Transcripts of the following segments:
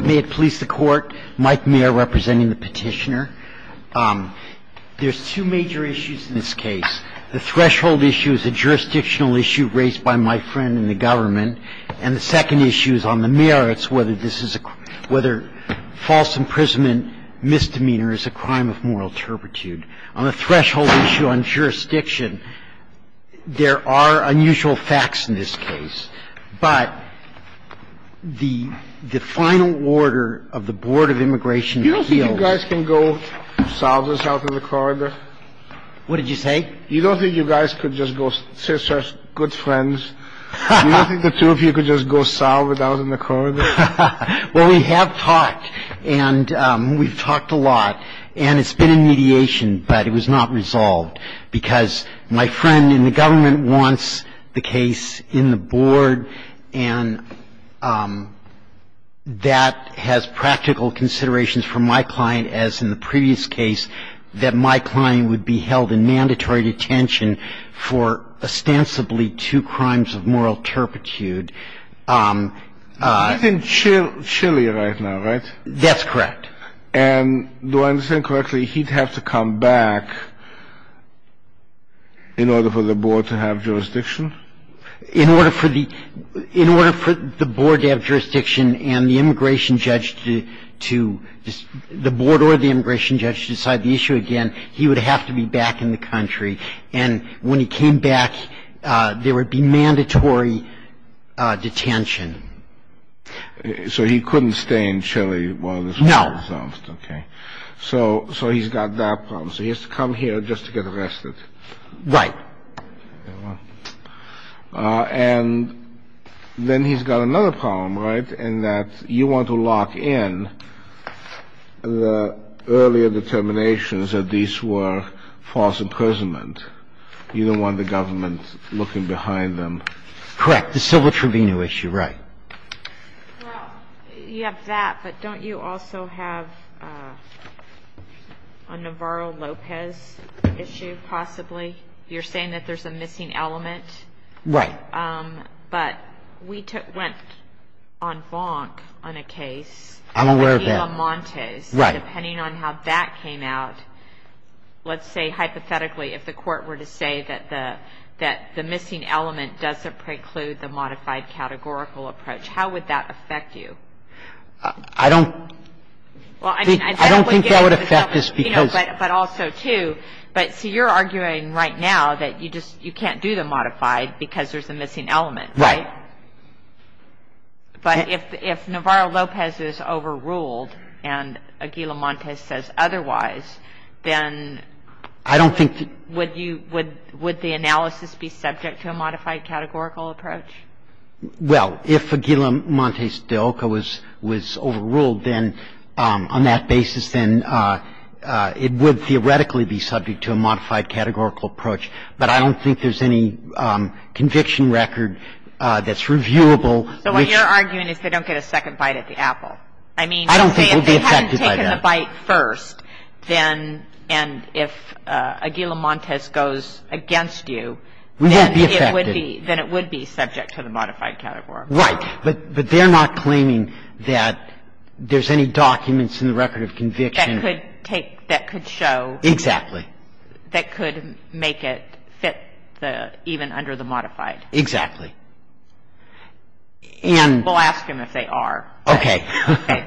May it please the Court, Mike Mayer representing the petitioner. There's two major issues in this case. The threshold issue is a jurisdictional issue raised by my friend in the government, and the second issue is on the merits, whether this is a – whether false imprisonment misdemeanor is a crime of moral turpitude. On the threshold issue on jurisdiction, there are unusual facts in this case, but the – the final order of the Board of Immigration appealed to me. You don't think you guys can go south and south in the corridor? What did you say? You don't think you guys could just go say such good friends? You don't think the two of you could just go south and out in the corridor? Well, we have talked, and we've talked a lot. And it's been in mediation, but it was not resolved, because my friend in the government wants the case in the Board, and that has practical considerations for my client, as in the previous case, that my client would be held in mandatory detention for ostensibly two crimes of moral turpitude. He's in Chile right now, right? That's correct. And do I understand correctly, he'd have to come back in order for the Board to have jurisdiction? In order for the – in order for the Board to have jurisdiction and the immigration judge to – the Board or the immigration judge to decide the issue again, he would have to be back in the country. And when he came back, there would be mandatory detention. So he couldn't stay in Chile while this was resolved. No. Okay. So he's got that problem. So he has to come here just to get arrested. Right. And then he's got another problem, right, in that you want to lock in the earlier determinations that these were false imprisonment. You don't want the government looking behind them. Correct. The civil tribunal issue, right. Well, you have that, but don't you also have a Navarro-Lopez issue, possibly? You're saying that there's a missing element? Right. But we took – went on FONC on a case. I'm aware of that. With Gila Montes. Right. Depending on how that came out, let's say, hypothetically, if the Court were to say that the missing element doesn't preclude the modified categorical approach, how would that affect you? I don't – Well, I mean – I don't think that would affect us because – You know, but also, too, but see, you're arguing right now that you just – you can't do the modified because there's a missing element, right? Right. But if Navarro-Lopez is overruled and a Gila Montes says otherwise, then – I don't think – Would you – would the analysis be subject to a modified categorical approach? Well, if a Gila Montes de Oca was overruled, then on that basis, then it would theoretically be subject to a modified categorical approach. But I don't think there's any conviction record that's reviewable. So what you're arguing is they don't get a second bite at the apple. I mean – I don't think it would be affected by that. If you get a bite first, then – and if a Gila Montes goes against you, then it would be – It wouldn't be affected. Then it would be subject to the modified category. Right. But they're not claiming that there's any documents in the record of conviction – That could take – that could show – Exactly. That could make it fit the – even under the modified. Exactly. And – We'll ask them if they are. Okay.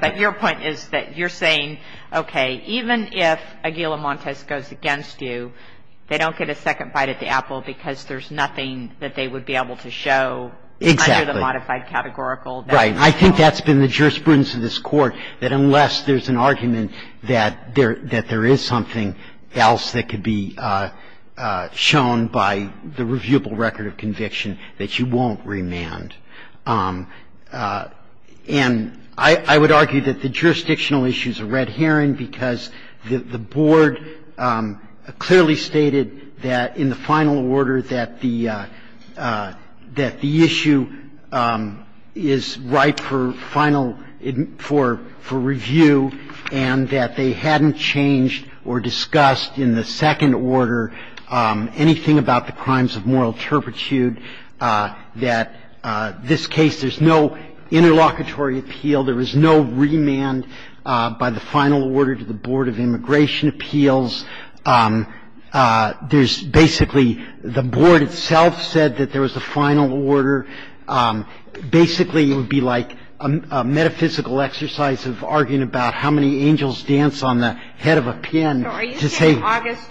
But your point is that you're saying, okay, even if a Gila Montes goes against you, they don't get a second bite at the apple because there's nothing that they would be able to show under the modified categorical. Right. And I think that's been the jurisprudence of this Court, that unless there's an argument that there is something else that could be shown by the reviewable record of conviction, that you won't remand. And I would argue that the jurisdictional issue is a red herring because the Board clearly stated that in the final order that the issue is ripe for final – for review and that they hadn't changed or discussed in the second order anything about the crimes of moral turpitude, that this case – there's no interlocutory appeal. There was no remand by the final order to the Board of Immigration Appeals. There's basically – the Board itself said that there was a final order. Basically, it would be like a metaphysical exercise of arguing about how many angels dance on the head of a pin to say – The final order is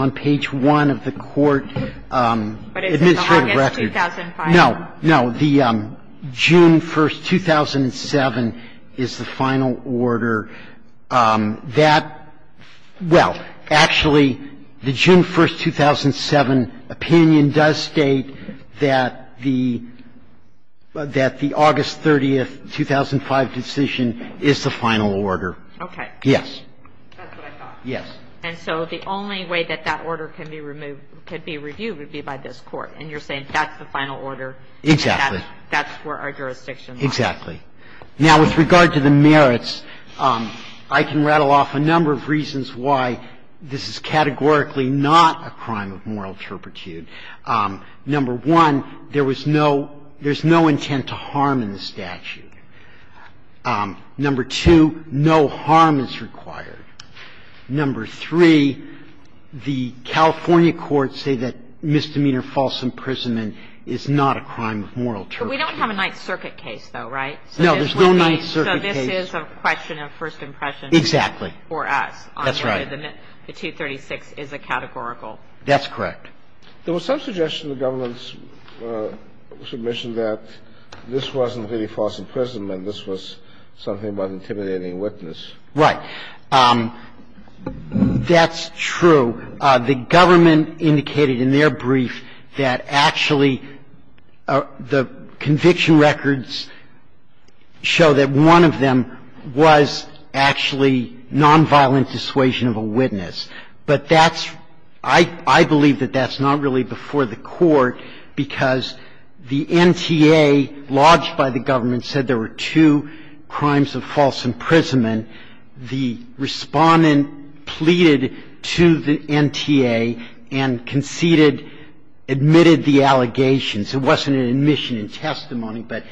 on page 1 of the court administrative record. But it's the August 2005 one. No. No. The June 1, 2007, is the final order. That – well, actually, the June 1, 2007 opinion doesn't change. It does state that the – that the August 30, 2005 decision is the final order. Okay. Yes. That's what I thought. Yes. And so the only way that that order can be removed – can be reviewed would be by this Court, and you're saying that's the final order. Exactly. That's where our jurisdiction lies. Exactly. Now, with regard to the merits, I can rattle off a number of reasons why this is categorically not a crime of moral turpitude. Number one, there was no – there's no intent to harm in the statute. Number two, no harm is required. Number three, the California courts say that misdemeanor false imprisonment is not a crime of moral turpitude. But we don't have a Ninth Circuit case, though, right? No, there's no Ninth Circuit case. So this is a question of first impression for us. Exactly. That's right. The 236 is a categorical. That's correct. There was some suggestion in the government's submission that this wasn't really false imprisonment. This was something about intimidating witness. Right. That's true. So the government indicated in their brief that actually the conviction records show that one of them was actually nonviolent dissuasion of a witness. But that's – I believe that that's not really before the Court because the NTA lodged by the government said there were two crimes of false imprisonment. Now, in the case of false imprisonment, the Respondent pleaded to the NTA and conceded – admitted the allegations. It wasn't an admission in testimony, but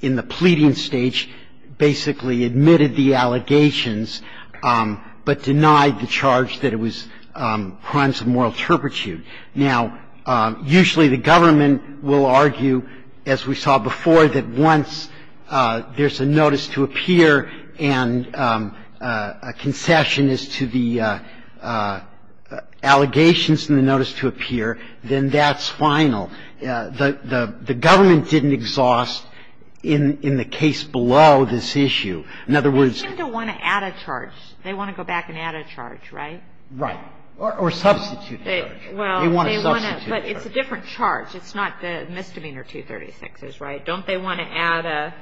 in the pleading stage basically admitted the allegations, but denied the charge that it was crimes of moral turpitude. Now, usually the government will argue, as we saw before, that once there's a notice to appear and a concession is to the allegations and the notice to appear, then that's final. The government didn't exhaust in the case below this issue. In other words – They seem to want to add a charge. They want to go back and add a charge, right? Right. Or substitute a charge. They want to substitute a charge. But it's a different charge. It's not the misdemeanor 236s, right? Don't they want to add a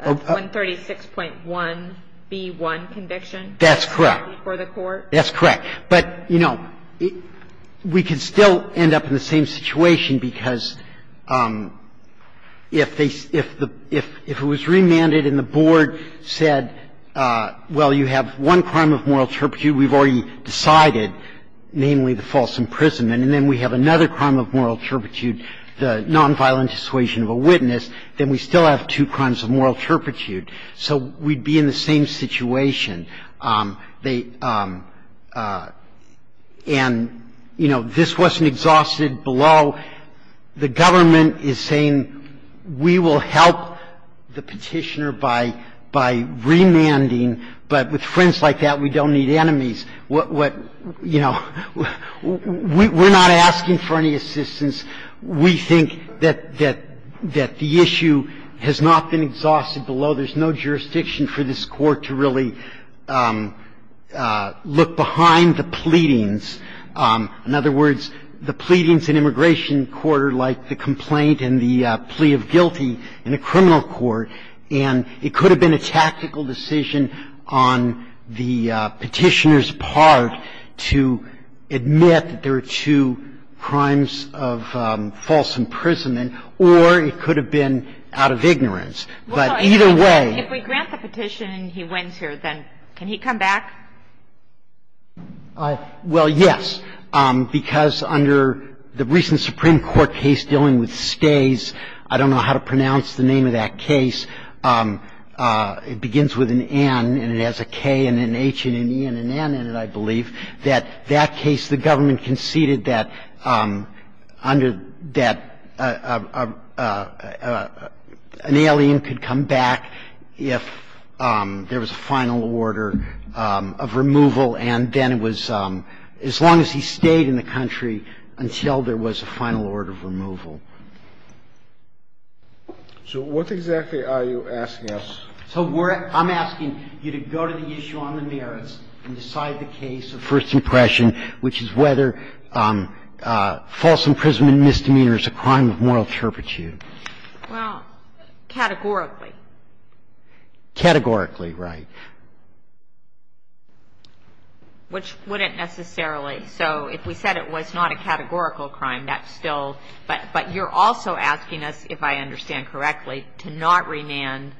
136.1b1 conviction before the Court? That's correct. That's correct. But, you know, we could still end up in the same situation because if they – if it was remanded and the board said, well, you have one crime of moral turpitude, we've already decided, namely the false imprisonment, and then we have another crime of moral turpitude, the nonviolent dissuasion of a witness, then we still have two crimes of moral turpitude. So we'd be in the same situation. They – and, you know, this wasn't exhausted below. The government is saying we will help the Petitioner by remanding, but with friends like that, we don't need enemies. You know, we're not asking for any assistance. We think that the issue has not been exhausted below. There's no jurisdiction for this Court to really look behind the pleadings. In other words, the pleadings in immigration court are like the complaint and the plea of guilty in a criminal court. And it could have been a tactical decision on the Petitioner's part to admit that there are two crimes of false imprisonment, or it could have been out of ignorance. But either way – If we grant the Petition and he wins here, then can he come back? Well, yes, because under the recent Supreme Court case dealing with stays, I don't know how to pronounce the name of that case. It begins with an N, and it has a K and an H and an E and an N in it, I believe. That that case, the government conceded that under that, an alien could come back if there was a final order of removal, and then it was as long as he stayed in the So what exactly are you asking us? So we're – I'm asking you to go to the issue on the merits and decide the case of first impression, which is whether false imprisonment misdemeanor is a crime of moral turpitude. Well, categorically. Categorically, right. Which wouldn't necessarily. So if we said it was not a categorical crime, that's still – but you're also asking us, if I understand correctly, to not remand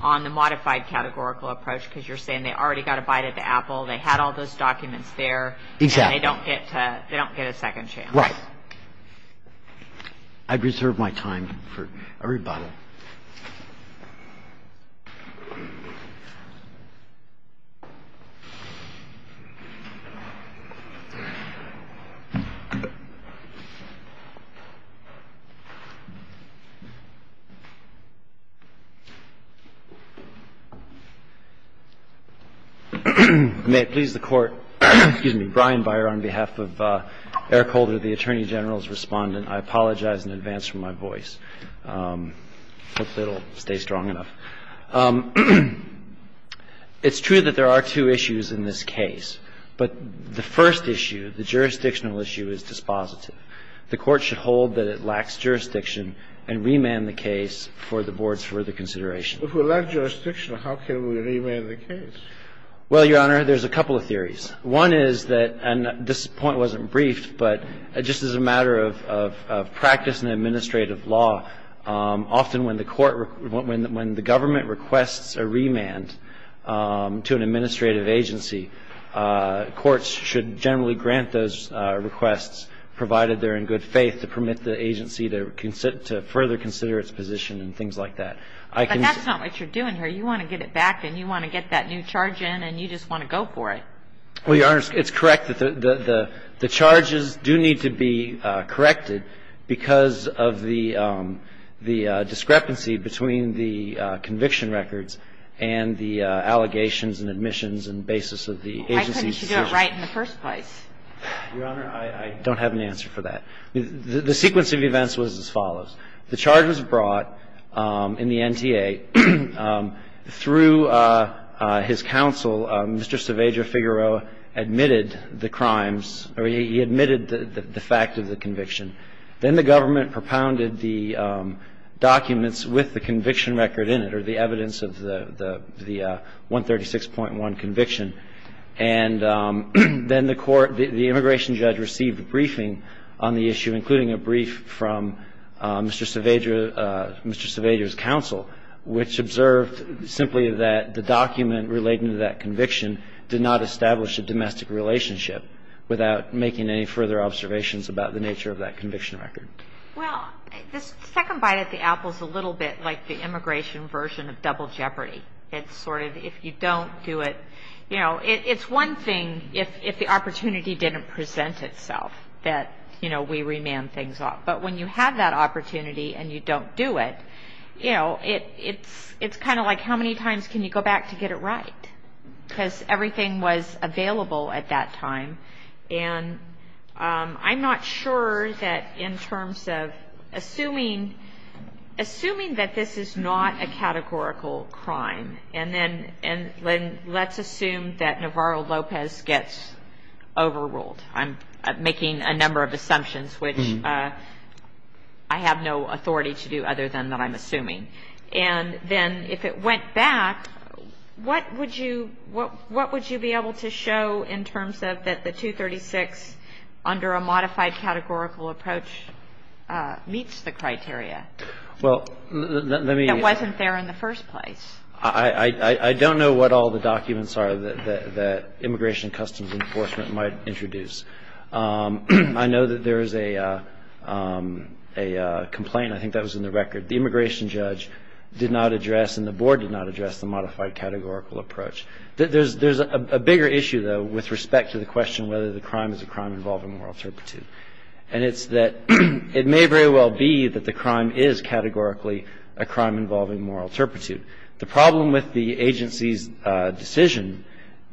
on the modified categorical approach, because you're saying they already got a bite at the apple, they had all those documents there, and they don't get to – they don't get a second chance. Right. I'd reserve my time for a rebuttal. May it please the Court, excuse me, Brian Beyer on behalf of Eric Holder, the Attorney General's Respondent. I apologize in advance for my voice. Thank you. Thank you, Your Honor. I'll try to stay strong. I'll try to stay strong. I'll try to stay strong. I'll try to stay strong. I hope that it'll stay strong enough. It's true that there are two issues in this case, but the first issue, the jurisdictional issue, is dispositive. The Court should hold that it lacks jurisdiction and remand the case for the Board's further consideration. But if we lack jurisdiction, how can we remand the case? Well, Your Honor, there's a couple of theories. One is that – and this point wasn't briefed, but just as a matter of practice in administrative law, often when the Court – when the government requests a remand to an administrative agency, courts should generally grant those requests provided they're in good faith to permit the agency to further consider its position and things like that. But that's not what you're doing here. You want to get it back, and you want to get that new charge in, and you just want to go for it. Well, Your Honor, it's correct that the charges do need to be corrected because of the discrepancy between the conviction records and the allegations and admissions and basis of the agency's decision. Why couldn't you do it right in the first place? Your Honor, I don't have an answer for that. The sequence of events was as follows. The charge was brought in the NTA through his counsel. Mr. Cerveja-Figueroa admitted the crimes, or he admitted the fact of the conviction. Then the government propounded the documents with the conviction record in it, or the evidence of the 136.1 conviction. And then the court – the immigration judge received a briefing on the issue, including a brief from Mr. Cerveja's counsel, which observed simply that the document relating to that conviction did not establish a domestic relationship without making any further observations about the nature of that conviction record. Well, the second bite at the apple is a little bit like the immigration version of double jeopardy. It's sort of, if you don't do it – you know, it's one thing if the opportunity didn't present itself that, you know, we remand things off. But when you have that opportunity and you don't do it, you know, it's kind of like how many times can you go back to get it right? Because everything was available at that time. And I'm not sure that in terms of assuming – assuming that this is not a categorical And then let's assume that Navarro-Lopez gets overruled. I'm making a number of assumptions, which I have no authority to do other than that I'm assuming. And then if it went back, what would you – what would you be able to show in terms of that the 236 under a modified categorical approach meets the criteria that wasn't there in the first place? I don't know what all the documents are that Immigration and Customs Enforcement might introduce. I know that there is a complaint. I think that was in the record. The immigration judge did not address and the board did not address the modified categorical approach. There's a bigger issue, though, with respect to the question whether the crime is a crime involving moral turpitude. And it's that it may very well be that the crime is categorically a crime involving moral turpitude. The problem with the agency's decision,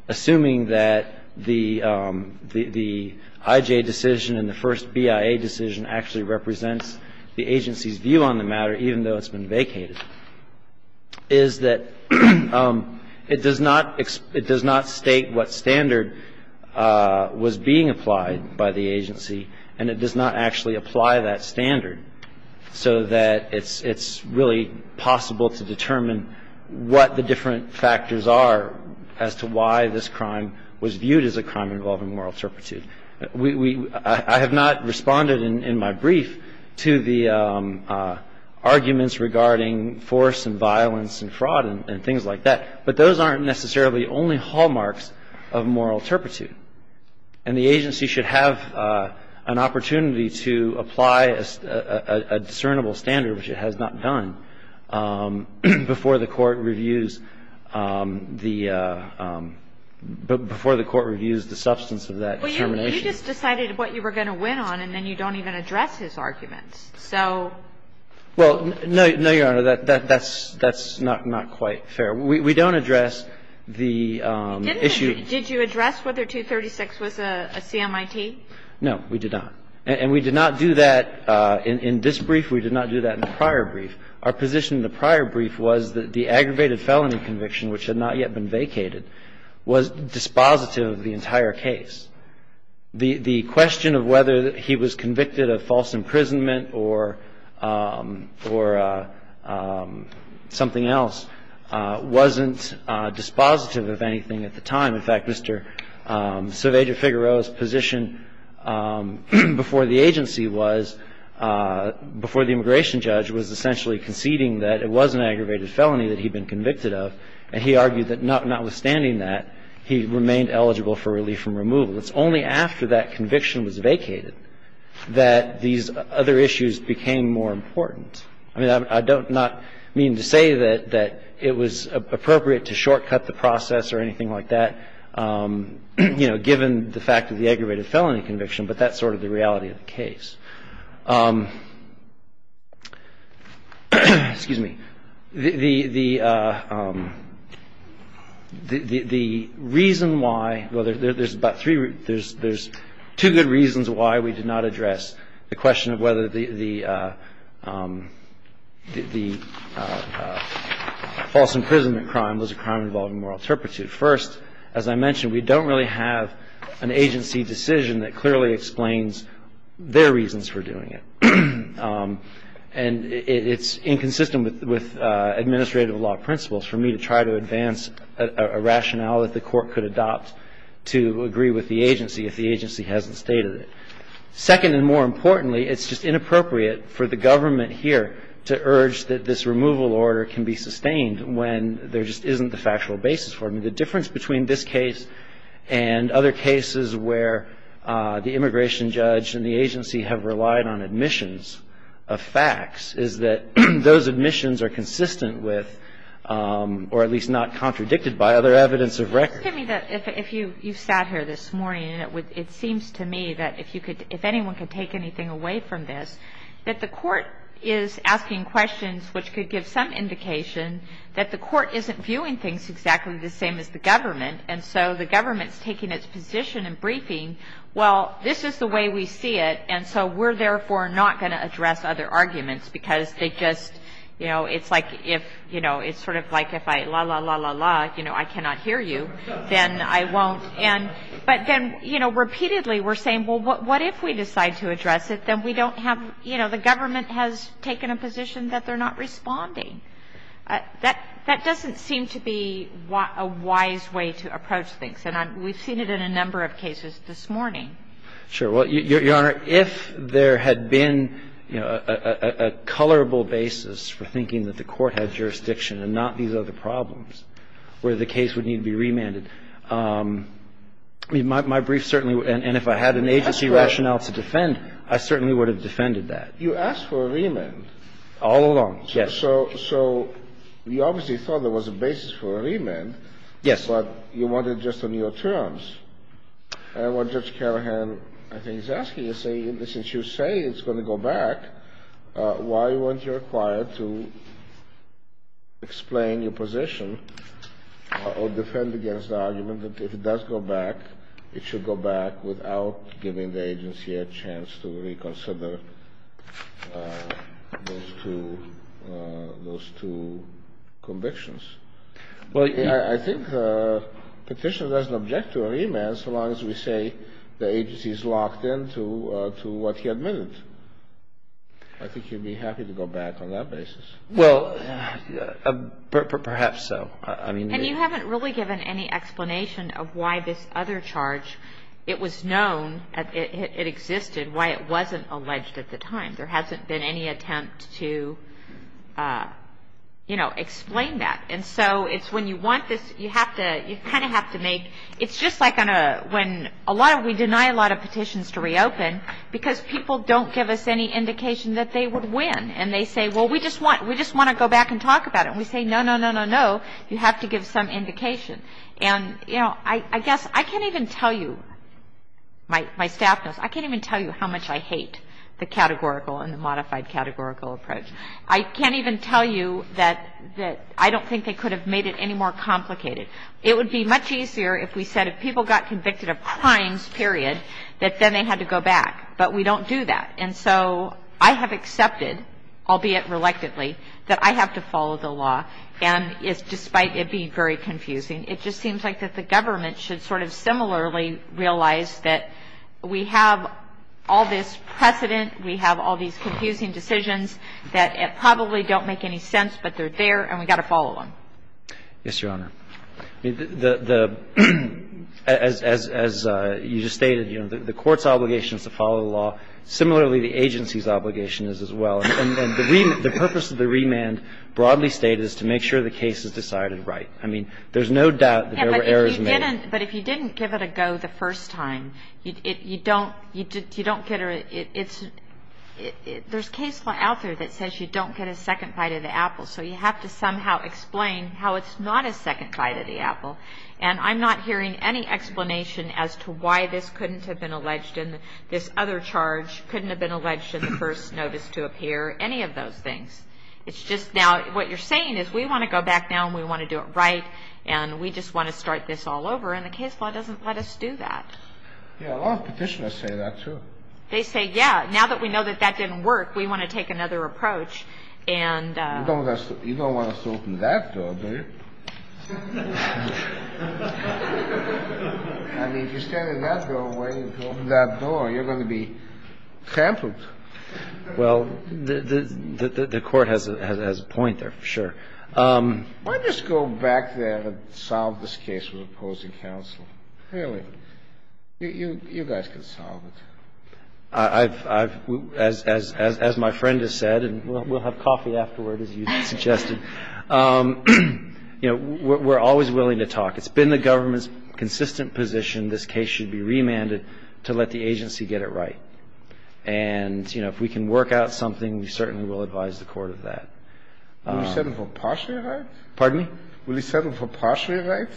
assuming that the – the IJ decision and the first BIA decision actually represents the agency's view on the matter, even though it's been vacated, is that it does not – it does not state what standard was being applied by the agency, and it does not actually apply that standard so that it's really possible to determine what the different factors are as to why this crime was viewed as a crime involving moral turpitude. We – I have not responded in my brief to the arguments regarding force and violence and fraud and things like that, but those aren't necessarily only hallmarks of moral turpitude. And the agency should have an opportunity to apply a discernible standard, which it has not done, before the Court reviews the – before the Court reviews the substance of that determination. Well, you just decided what you were going to win on, and then you don't even address his arguments. So – Well, no, Your Honor. That's not quite fair. We don't address the issue. Did you address whether 236 was a CMIT? No, we did not. And we did not do that in this brief. We did not do that in the prior brief. Our position in the prior brief was that the aggravated felony conviction, which had not yet been vacated, was dispositive of the entire case. The question of whether he was convicted of false imprisonment or – or something else wasn't dispositive of anything at the time. In fact, Mr. Cerveja-Figueroa's position before the agency was – before the immigration judge was essentially conceding that it was an aggravated felony that he'd been convicted of, and he argued that notwithstanding that, he remained eligible for relief from removal. It's only after that conviction was vacated that these other issues became more important. I mean, I don't – not meaning to say that it was appropriate to shortcut the process or anything like that, you know, given the fact that the aggravated felony conviction, but that's sort of the reality of the case. Excuse me. The reason why – well, there's about three – there's two good reasons why we did not address the question of whether the – the false imprisonment crime was a crime involving moral turpitude. First, as I mentioned, we don't really have an agency decision that clearly explains their reasons for doing it. And it's inconsistent with administrative law principles for me to try to advance a rationale that the Court could adopt to agree with the agency if the agency hasn't stated it. Second, and more importantly, it's just inappropriate for the government here to urge order can be sustained when there just isn't the factual basis for it. I mean, the difference between this case and other cases where the immigration judge and the agency have relied on admissions of facts is that those admissions are consistent with, or at least not contradicted by, other evidence of record. Well, excuse me, if you sat here this morning, it seems to me that if you could – if anyone could take anything away from this, that the Court is asking questions which could give some indication that the Court isn't viewing things exactly the same as the government, and so the government's taking its position in briefing, well, this is the way we see it, and so we're therefore not going to address other arguments because they just – you know, it's like if – you know, it's sort of like if I – la, la, la, la, la, you know, I cannot hear you, then I won't. And – but then, you know, repeatedly we're saying, well, what if we decide to address it, then we don't have – you know, the government has taken a position that they're not responding. That doesn't seem to be a wise way to approach things, and we've seen it in a number of cases this morning. Sure. Well, Your Honor, if there had been, you know, a colorable basis for thinking that the Court had jurisdiction and not these other problems where the case would need to be remanded, my brief certainly – and if I had an agency rationale to defend, I certainly would have defended that. You asked for a remand. All along. Yes. So you obviously thought there was a basis for a remand. Yes. But you wanted just on your terms. And what Judge Carahan, I think, is asking is saying, since you say it's going to go back, why weren't you required to explain your position or defend against the argument that if it does go back, it should go back without giving the agency a chance to reconsider those two – those two convictions? Well, I think the Petitioner doesn't object to a remand so long as we say the agency is locked into what he admitted. I think he'd be happy to go back on that basis. Well, perhaps so. And you haven't really given any explanation of why this other charge, it was known, it existed, why it wasn't alleged at the time. There hasn't been any attempt to, you know, explain that. And so it's when you want this, you have to – you kind of have to make – it's just like on a – when a lot of – we deny a lot of petitions to reopen because people don't give us any indication that they would win. And they say, well, we just want – we just want to go back and talk about it. And we say, no, no, no, no, no, you have to give some indication. And, you know, I guess I can't even tell you, my staff knows, I can't even tell you how much I hate the categorical and the modified categorical approach. I can't even tell you that I don't think they could have made it any more complicated. It would be much easier if we said if people got convicted of crimes, period, that then they had to go back. But we don't do that. And so I have accepted, albeit reluctantly, that I have to follow the law. And it's – despite it being very confusing, it just seems like that the government should sort of similarly realize that we have all this precedent, we have all these confusing decisions that probably don't make any sense, but they're there, and we've got to follow them. Yes, Your Honor. The – as you just stated, you know, the court's obligation is to follow the law. Similarly, the agency's obligation is as well. And the purpose of the remand broadly stated is to make sure the case is decided right. I mean, there's no doubt that there were errors made. But if you didn't give it a go the first time, you don't – you don't get a – it's – there's case law out there that says you don't get a second bite of the apple. So you have to somehow explain how it's not a second bite of the apple. And I'm not hearing any explanation as to why this couldn't have been alleged in this other charge, couldn't have been alleged in the first notice to appear, any of those things. It's just now – what you're saying is we want to go back now and we want to do it right, and we just want to start this all over. And the case law doesn't let us do that. Yeah, a lot of petitioners say that, too. They say, yeah, now that we know that that didn't work, we want to take another approach. You don't want us to open that door, do you? I mean, if you stand in that door waiting to open that door, you're going to be tampered. Well, the Court has a point there, sure. Why don't you just go back there and solve this case with opposing counsel? Really. You guys can solve it. As my friend has said, and we'll have coffee afterward, as you suggested, you know, we're always willing to talk. It's been the government's consistent position this case should be remanded to let the agency get it right. And, you know, if we can work out something, we certainly will advise the Court of that. Will you settle for partial right? Pardon me? Will you settle for partial right?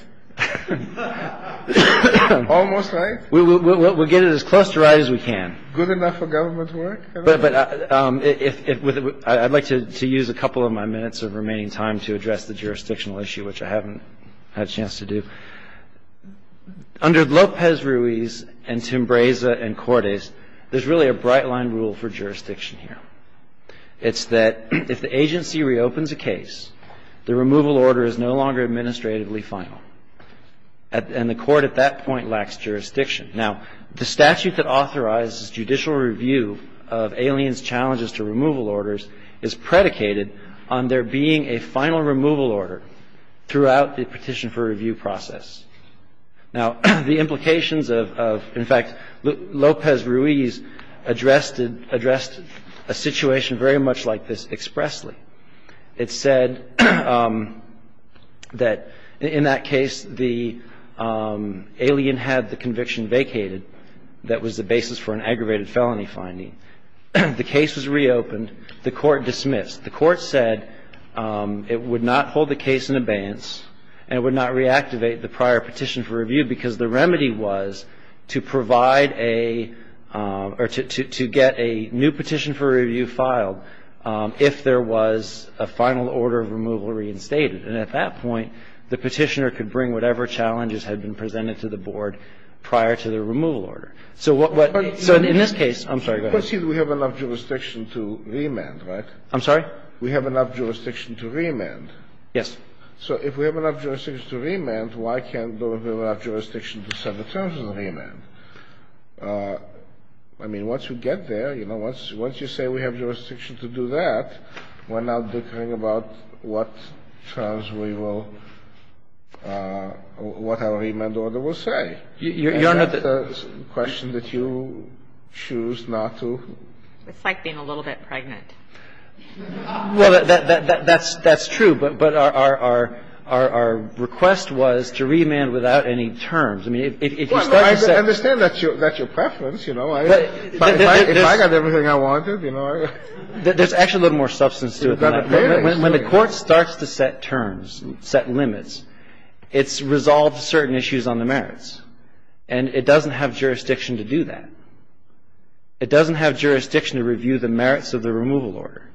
Almost right? We'll get it as close to right as we can. Good enough for government to work? I'd like to use a couple of my minutes of remaining time to address the jurisdictional issue, which I haven't had a chance to do. Under Lopez-Ruiz and Timbreza and Cordes, there's really a bright line rule for jurisdiction here. It's that if the agency reopens a case, the removal order is no longer administratively final. And the Court at that point lacks jurisdiction. Now, the statute that authorizes judicial review of aliens' challenges to removal orders is predicated on there being a final removal order throughout the petition for review process. Now, the implications of – in fact, Lopez-Ruiz addressed a situation very much like this expressly. It said that in that case, the alien had the conviction vacated. That was the basis for an aggravated felony finding. The case was reopened. The Court dismissed. The Court said it would not hold the case in abeyance and it would not reactivate the prior petition for review because the remedy was to provide a – or to get a new remedy that was a final order of removal reinstated. And at that point, the Petitioner could bring whatever challenges had been presented to the board prior to the removal order. So what – so in this case – I'm sorry. Go ahead. We have enough jurisdiction to remand, right? I'm sorry? We have enough jurisdiction to remand. Yes. So if we have enough jurisdiction to remand, why can't there be enough jurisdiction to set the terms of the remand? I mean, once you get there, you know, once you say we have jurisdiction to do that, we're now bickering about what terms we will – what our remand order will say. You don't have to – And that's a question that you choose not to – It's like being a little bit pregnant. Well, that's true. But our request was to remand without any terms. I mean, if you start – I understand that's your preference, you know. If I got everything I wanted, you know. There's actually a little more substance to it than that. When the Court starts to set terms, set limits, it's resolved certain issues on the merits. And it doesn't have jurisdiction to do that. It doesn't have jurisdiction to review the merits of the removal order.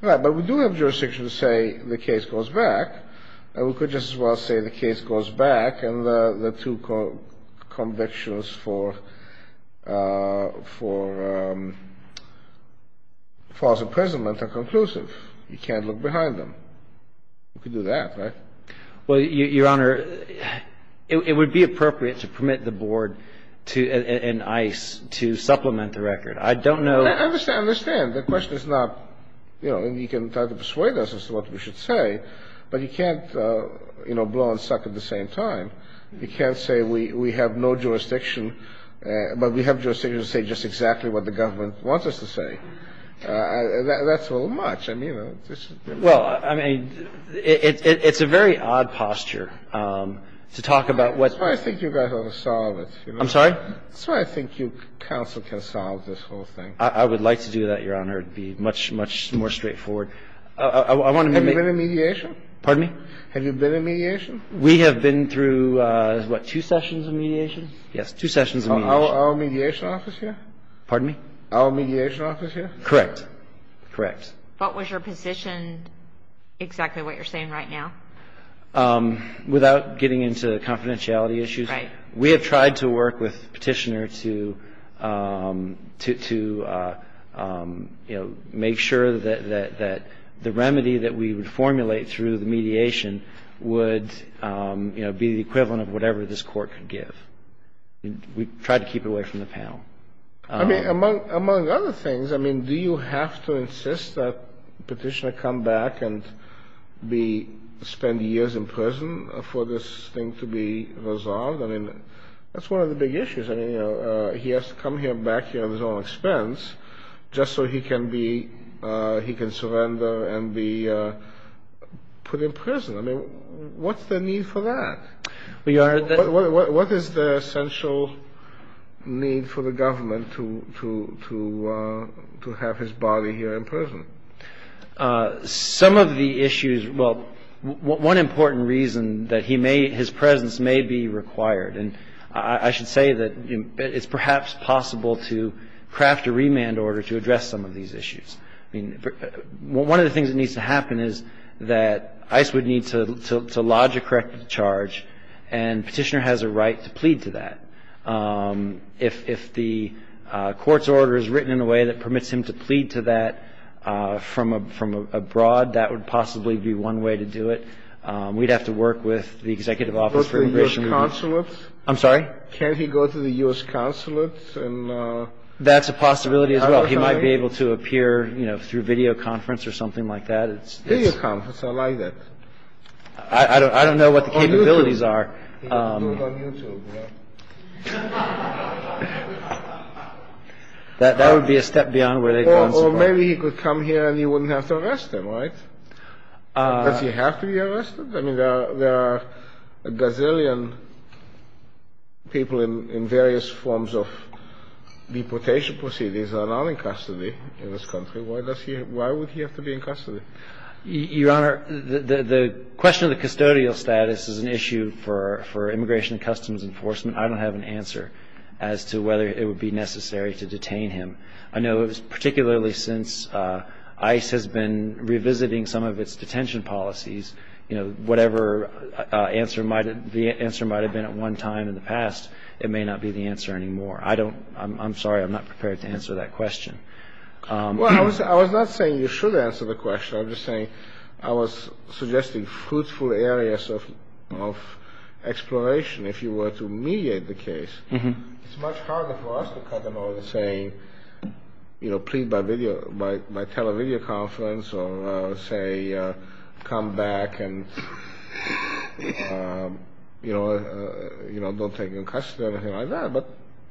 Right. But we do have jurisdiction to say the case goes back. And we could just as well say the case goes back and the two convictions for false imprisonment are conclusive. You can't look behind them. You could do that, right? Well, Your Honor, it would be appropriate to permit the Board and ICE to supplement the record. I don't know – I understand. The question is not – you know, and you can try to persuade us as to what we should say. But you can't, you know, blow and suck at the same time. You can't say we have no jurisdiction, but we have jurisdiction to say just exactly what the government wants us to say. That's a little much. I mean, this is – Well, I mean, it's a very odd posture to talk about what's – That's why I think you guys ought to solve it. I'm sorry? That's why I think you counsel can solve this whole thing. I would like to do that, Your Honor. It would be much, much more straightforward. I want to make – Have you been in mediation? Pardon me? Have you been in mediation? We have been through, what, two sessions of mediation? Yes, two sessions of mediation. Our mediation office here? Pardon me? Our mediation office here? Correct. Correct. But was your position exactly what you're saying right now? Without getting into confidentiality issues. Right. We have tried to work with Petitioner to, you know, make sure that the remedy that we would formulate through the mediation would, you know, be the equivalent of whatever this Court could give. We tried to keep it away from the panel. I mean, among other things, I mean, do you have to insist that Petitioner come back and spend years in prison for this thing to be resolved? I mean, that's one of the big issues. I mean, you know, he has to come back here on his own expense just so he can be – he can surrender and be put in prison. I mean, what's the need for that? What is the essential need for the government to have his body here in prison? Some of the issues – well, one important reason that he may – his presence may be required, and I should say that it's perhaps possible to craft a remand order to address some of these issues. I mean, one of the things that needs to happen is that ICE would need to lodge a corrective charge, and Petitioner has a right to plead to that. If the Court's order is written in a way that permits him to plead to that from abroad, that would possibly be one way to do it. We'd have to work with the Executive Office for Immigration. Can he go to the U.S. consulate? I'm sorry? Can he go to the U.S. consulate? That's a possibility as well. He might be able to appear, you know, through videoconference or something like that. Videoconference. I like that. I don't know what the capabilities are. He doesn't do it on YouTube, you know. That would be a step beyond where they'd go in support. Or maybe he could come here, and you wouldn't have to arrest him, right? Does he have to be arrested? I mean, there are a gazillion people in various forms of deportation proceedings that are not in custody in this country. Why would he have to be in custody? Your Honor, the question of the custodial status is an issue for Immigration and Customs Enforcement. I don't have an answer as to whether it would be necessary to detain him. I know particularly since ICE has been revisiting some of its detention policies, you know, whatever answer might have been at one time in the past, it may not be the answer anymore. I don't – I'm sorry. I'm not prepared to answer that question. Well, I was not saying you should answer the question. I'm just saying I was suggesting fruitful areas of exploration if you were to mediate the case. It's much harder for us to cut them over to saying, you know, plead by video – by tele-video conference or say come back and, you know, don't take him in custody or anything like that. But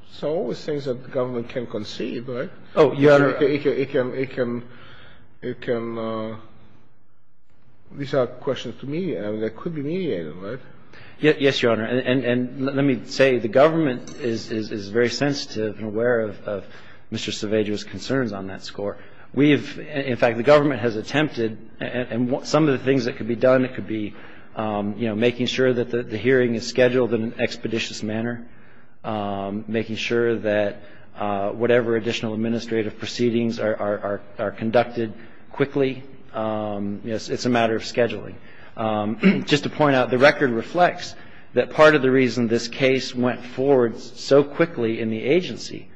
there's always things that the government can conceive, right? Oh, Your Honor. It can – it can – these are questions to me. I mean, they could be mediated, right? Yes, Your Honor. And let me say the government is very sensitive and aware of Mr. Seveggio's concerns on that score. We have – in fact, the government has attempted – and some of the things that could be done, it could be, you know, making sure that the hearing is scheduled in an expeditious manner, making sure that whatever additional administrative proceedings are conducted quickly. You know, it's a matter of scheduling. Just to point out, the record reflects that part of the reason this case went forward so quickly in the agency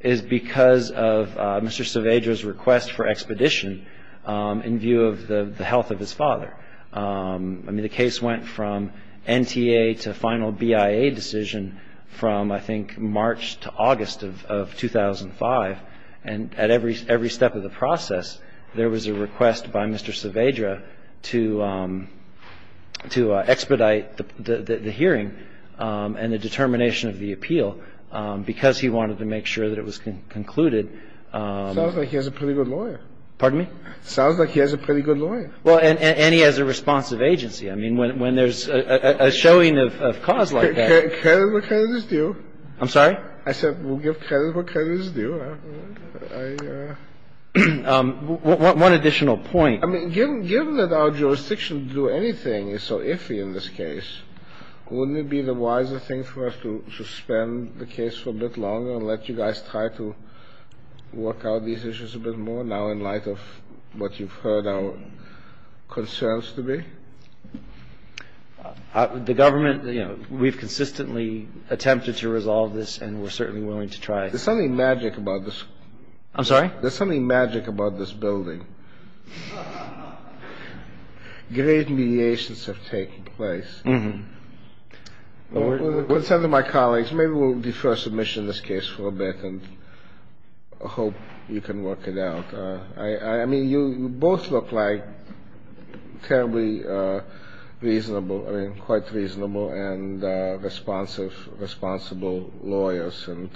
is because of Mr. Seveggio's request for expedition in view of the health of his father. I mean, the case went from NTA to final BIA decision from, I think, March to August of 2005. And at every step of the process, there was a request by Mr. Seveggio to expedite the hearing and the determination of the appeal because he wanted to make sure that it was concluded. Sounds like he has a pretty good lawyer. Pardon me? Sounds like he has a pretty good lawyer. Well, and he has a responsive agency. I mean, when there's a showing of cause like that – Credit where credit is due. I'm sorry? I said we'll give credit where credit is due. I – One additional point. I mean, given that our jurisdiction to do anything is so iffy in this case, wouldn't it be the wiser thing for us to suspend the case for a bit longer and let you guys try to work out these issues a bit more now in light of what you've heard our concerns to be? The government, you know, we've consistently attempted to resolve this and we're certainly willing to try. There's something magic about this. I'm sorry? There's something magic about this building. Great mediations have taken place. Mm-hmm. With the consent of my colleagues, maybe we'll defer submission of this case for a bit and hope you can work it out. I mean, you both look like terribly reasonable – I mean, quite reasonable and responsive – responsible lawyers. And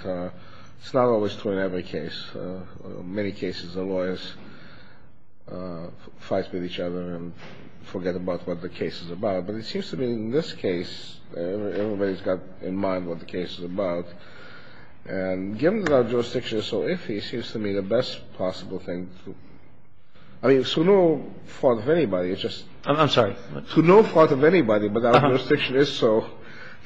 it's not always true in every case. In many cases, the lawyers fight with each other and forget about what the case is about. But it seems to me in this case, everybody's got in mind what the case is about. And given that our jurisdiction is so iffy, it seems to me the best possible thing to – I mean, it's to no fault of anybody. It's just – I'm sorry? To no fault of anybody, but our jurisdiction is so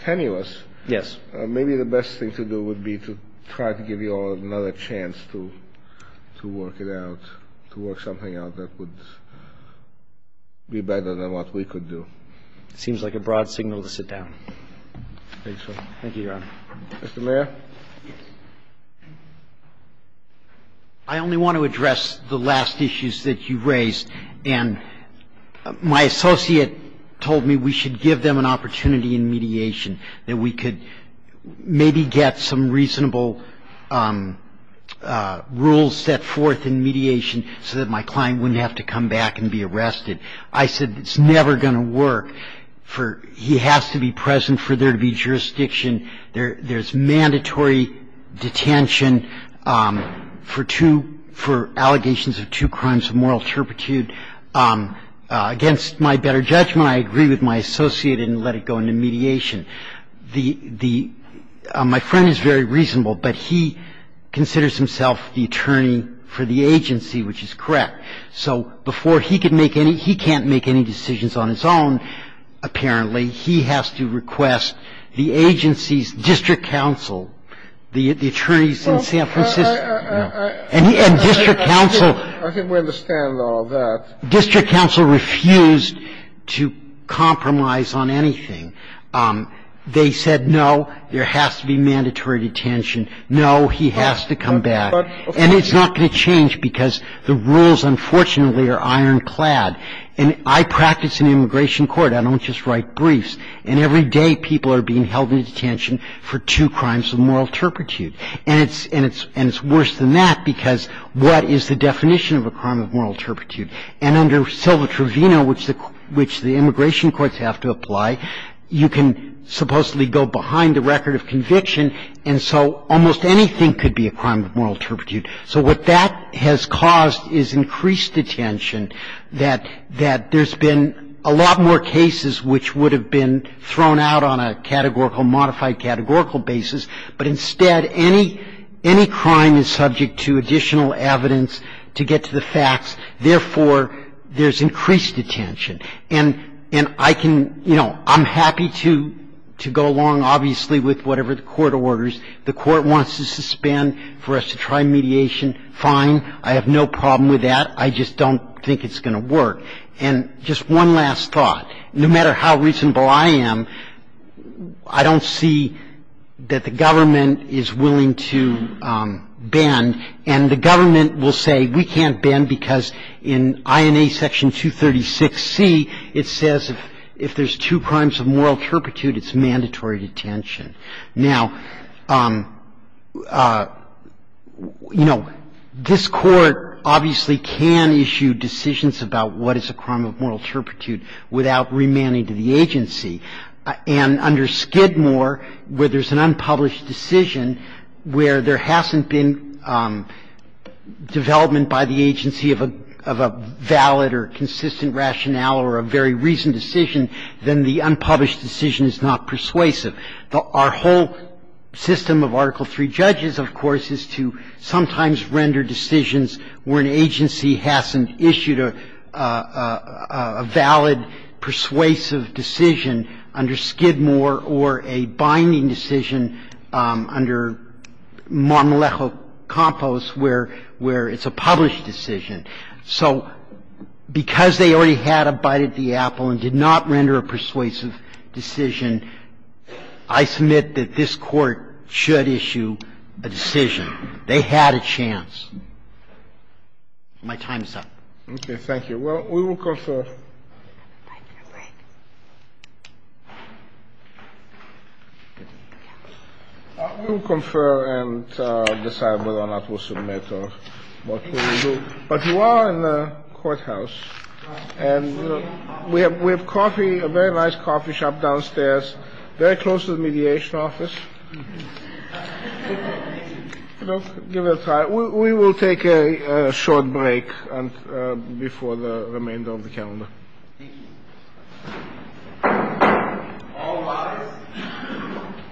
tenuous. Yes. Maybe the best thing to do would be to try to give you all another chance to work it out. That would be better than what we could do. It seems like a broad signal to sit down. I think so. Thank you, Your Honor. Mr. Mayer. I only want to address the last issues that you raised. And my associate told me we should give them an opportunity in mediation, that we could get some reasonable rules set forth in mediation so that my client wouldn't have to come back and be arrested. I said it's never going to work for – he has to be present for there to be jurisdiction. There's mandatory detention for two – for allegations of two crimes of moral turpitude. Against my better judgment, I agree with my associate and let it go into mediation. The – my friend is very reasonable, but he considers himself the attorney for the agency, which is correct. So before he can make any – he can't make any decisions on his own, apparently. He has to request the agency's district counsel, the attorneys in San Francisco. And district counsel – I think we understand all of that. District counsel refused to compromise on anything. They said no, there has to be mandatory detention. No, he has to come back. And it's not going to change because the rules, unfortunately, are ironclad. And I practice in immigration court. I don't just write briefs. And every day people are being held in detention for two crimes of moral turpitude. And it's worse than that because what is the definition of a crime of moral turpitude? And under Silva-Trovino, which the immigration courts have to apply, you can supposedly go behind the record of conviction, and so almost anything could be a crime of moral turpitude. So what that has caused is increased detention, that there's been a lot more cases which would have been thrown out on a categorical, modified categorical basis, but instead any crime is subject to additional evidence to get to the facts. Therefore, there's increased detention. And I can, you know, I'm happy to go along, obviously, with whatever the court orders. The court wants to suspend for us to try mediation, fine. I have no problem with that. I just don't think it's going to work. And just one last thought. No matter how reasonable I am, I don't see that the government is willing to bend. And the government will say we can't bend because in INA Section 236C, it says if there's two crimes of moral turpitude, it's mandatory detention. Now, you know, this Court obviously can issue decisions about what is a crime of moral turpitude without remanding to the agency. And under Skidmore, where there's an unpublished decision where there hasn't been development by the agency of a valid or consistent rationale or a very recent decision, then the unpublished decision is not persuasive. Our whole system of Article III judges, of course, is to sometimes render decisions where an agency hasn't issued a valid persuasive decision under Skidmore or a binding decision under Montelejo-Campos where it's a published decision. So because they already had a bite at the apple and did not render a persuasive decision, I submit that this Court should issue a decision. They had a chance. My time is up. Okay. Thank you. Well, we will confer. We will confer and decide whether or not we'll submit or what we will do. But you are in the courthouse, and we have coffee, a very nice coffee shop downstairs, very close to the mediation office. Give it a try. We will take a short break before the remainder of the calendar. Thank you. All rise.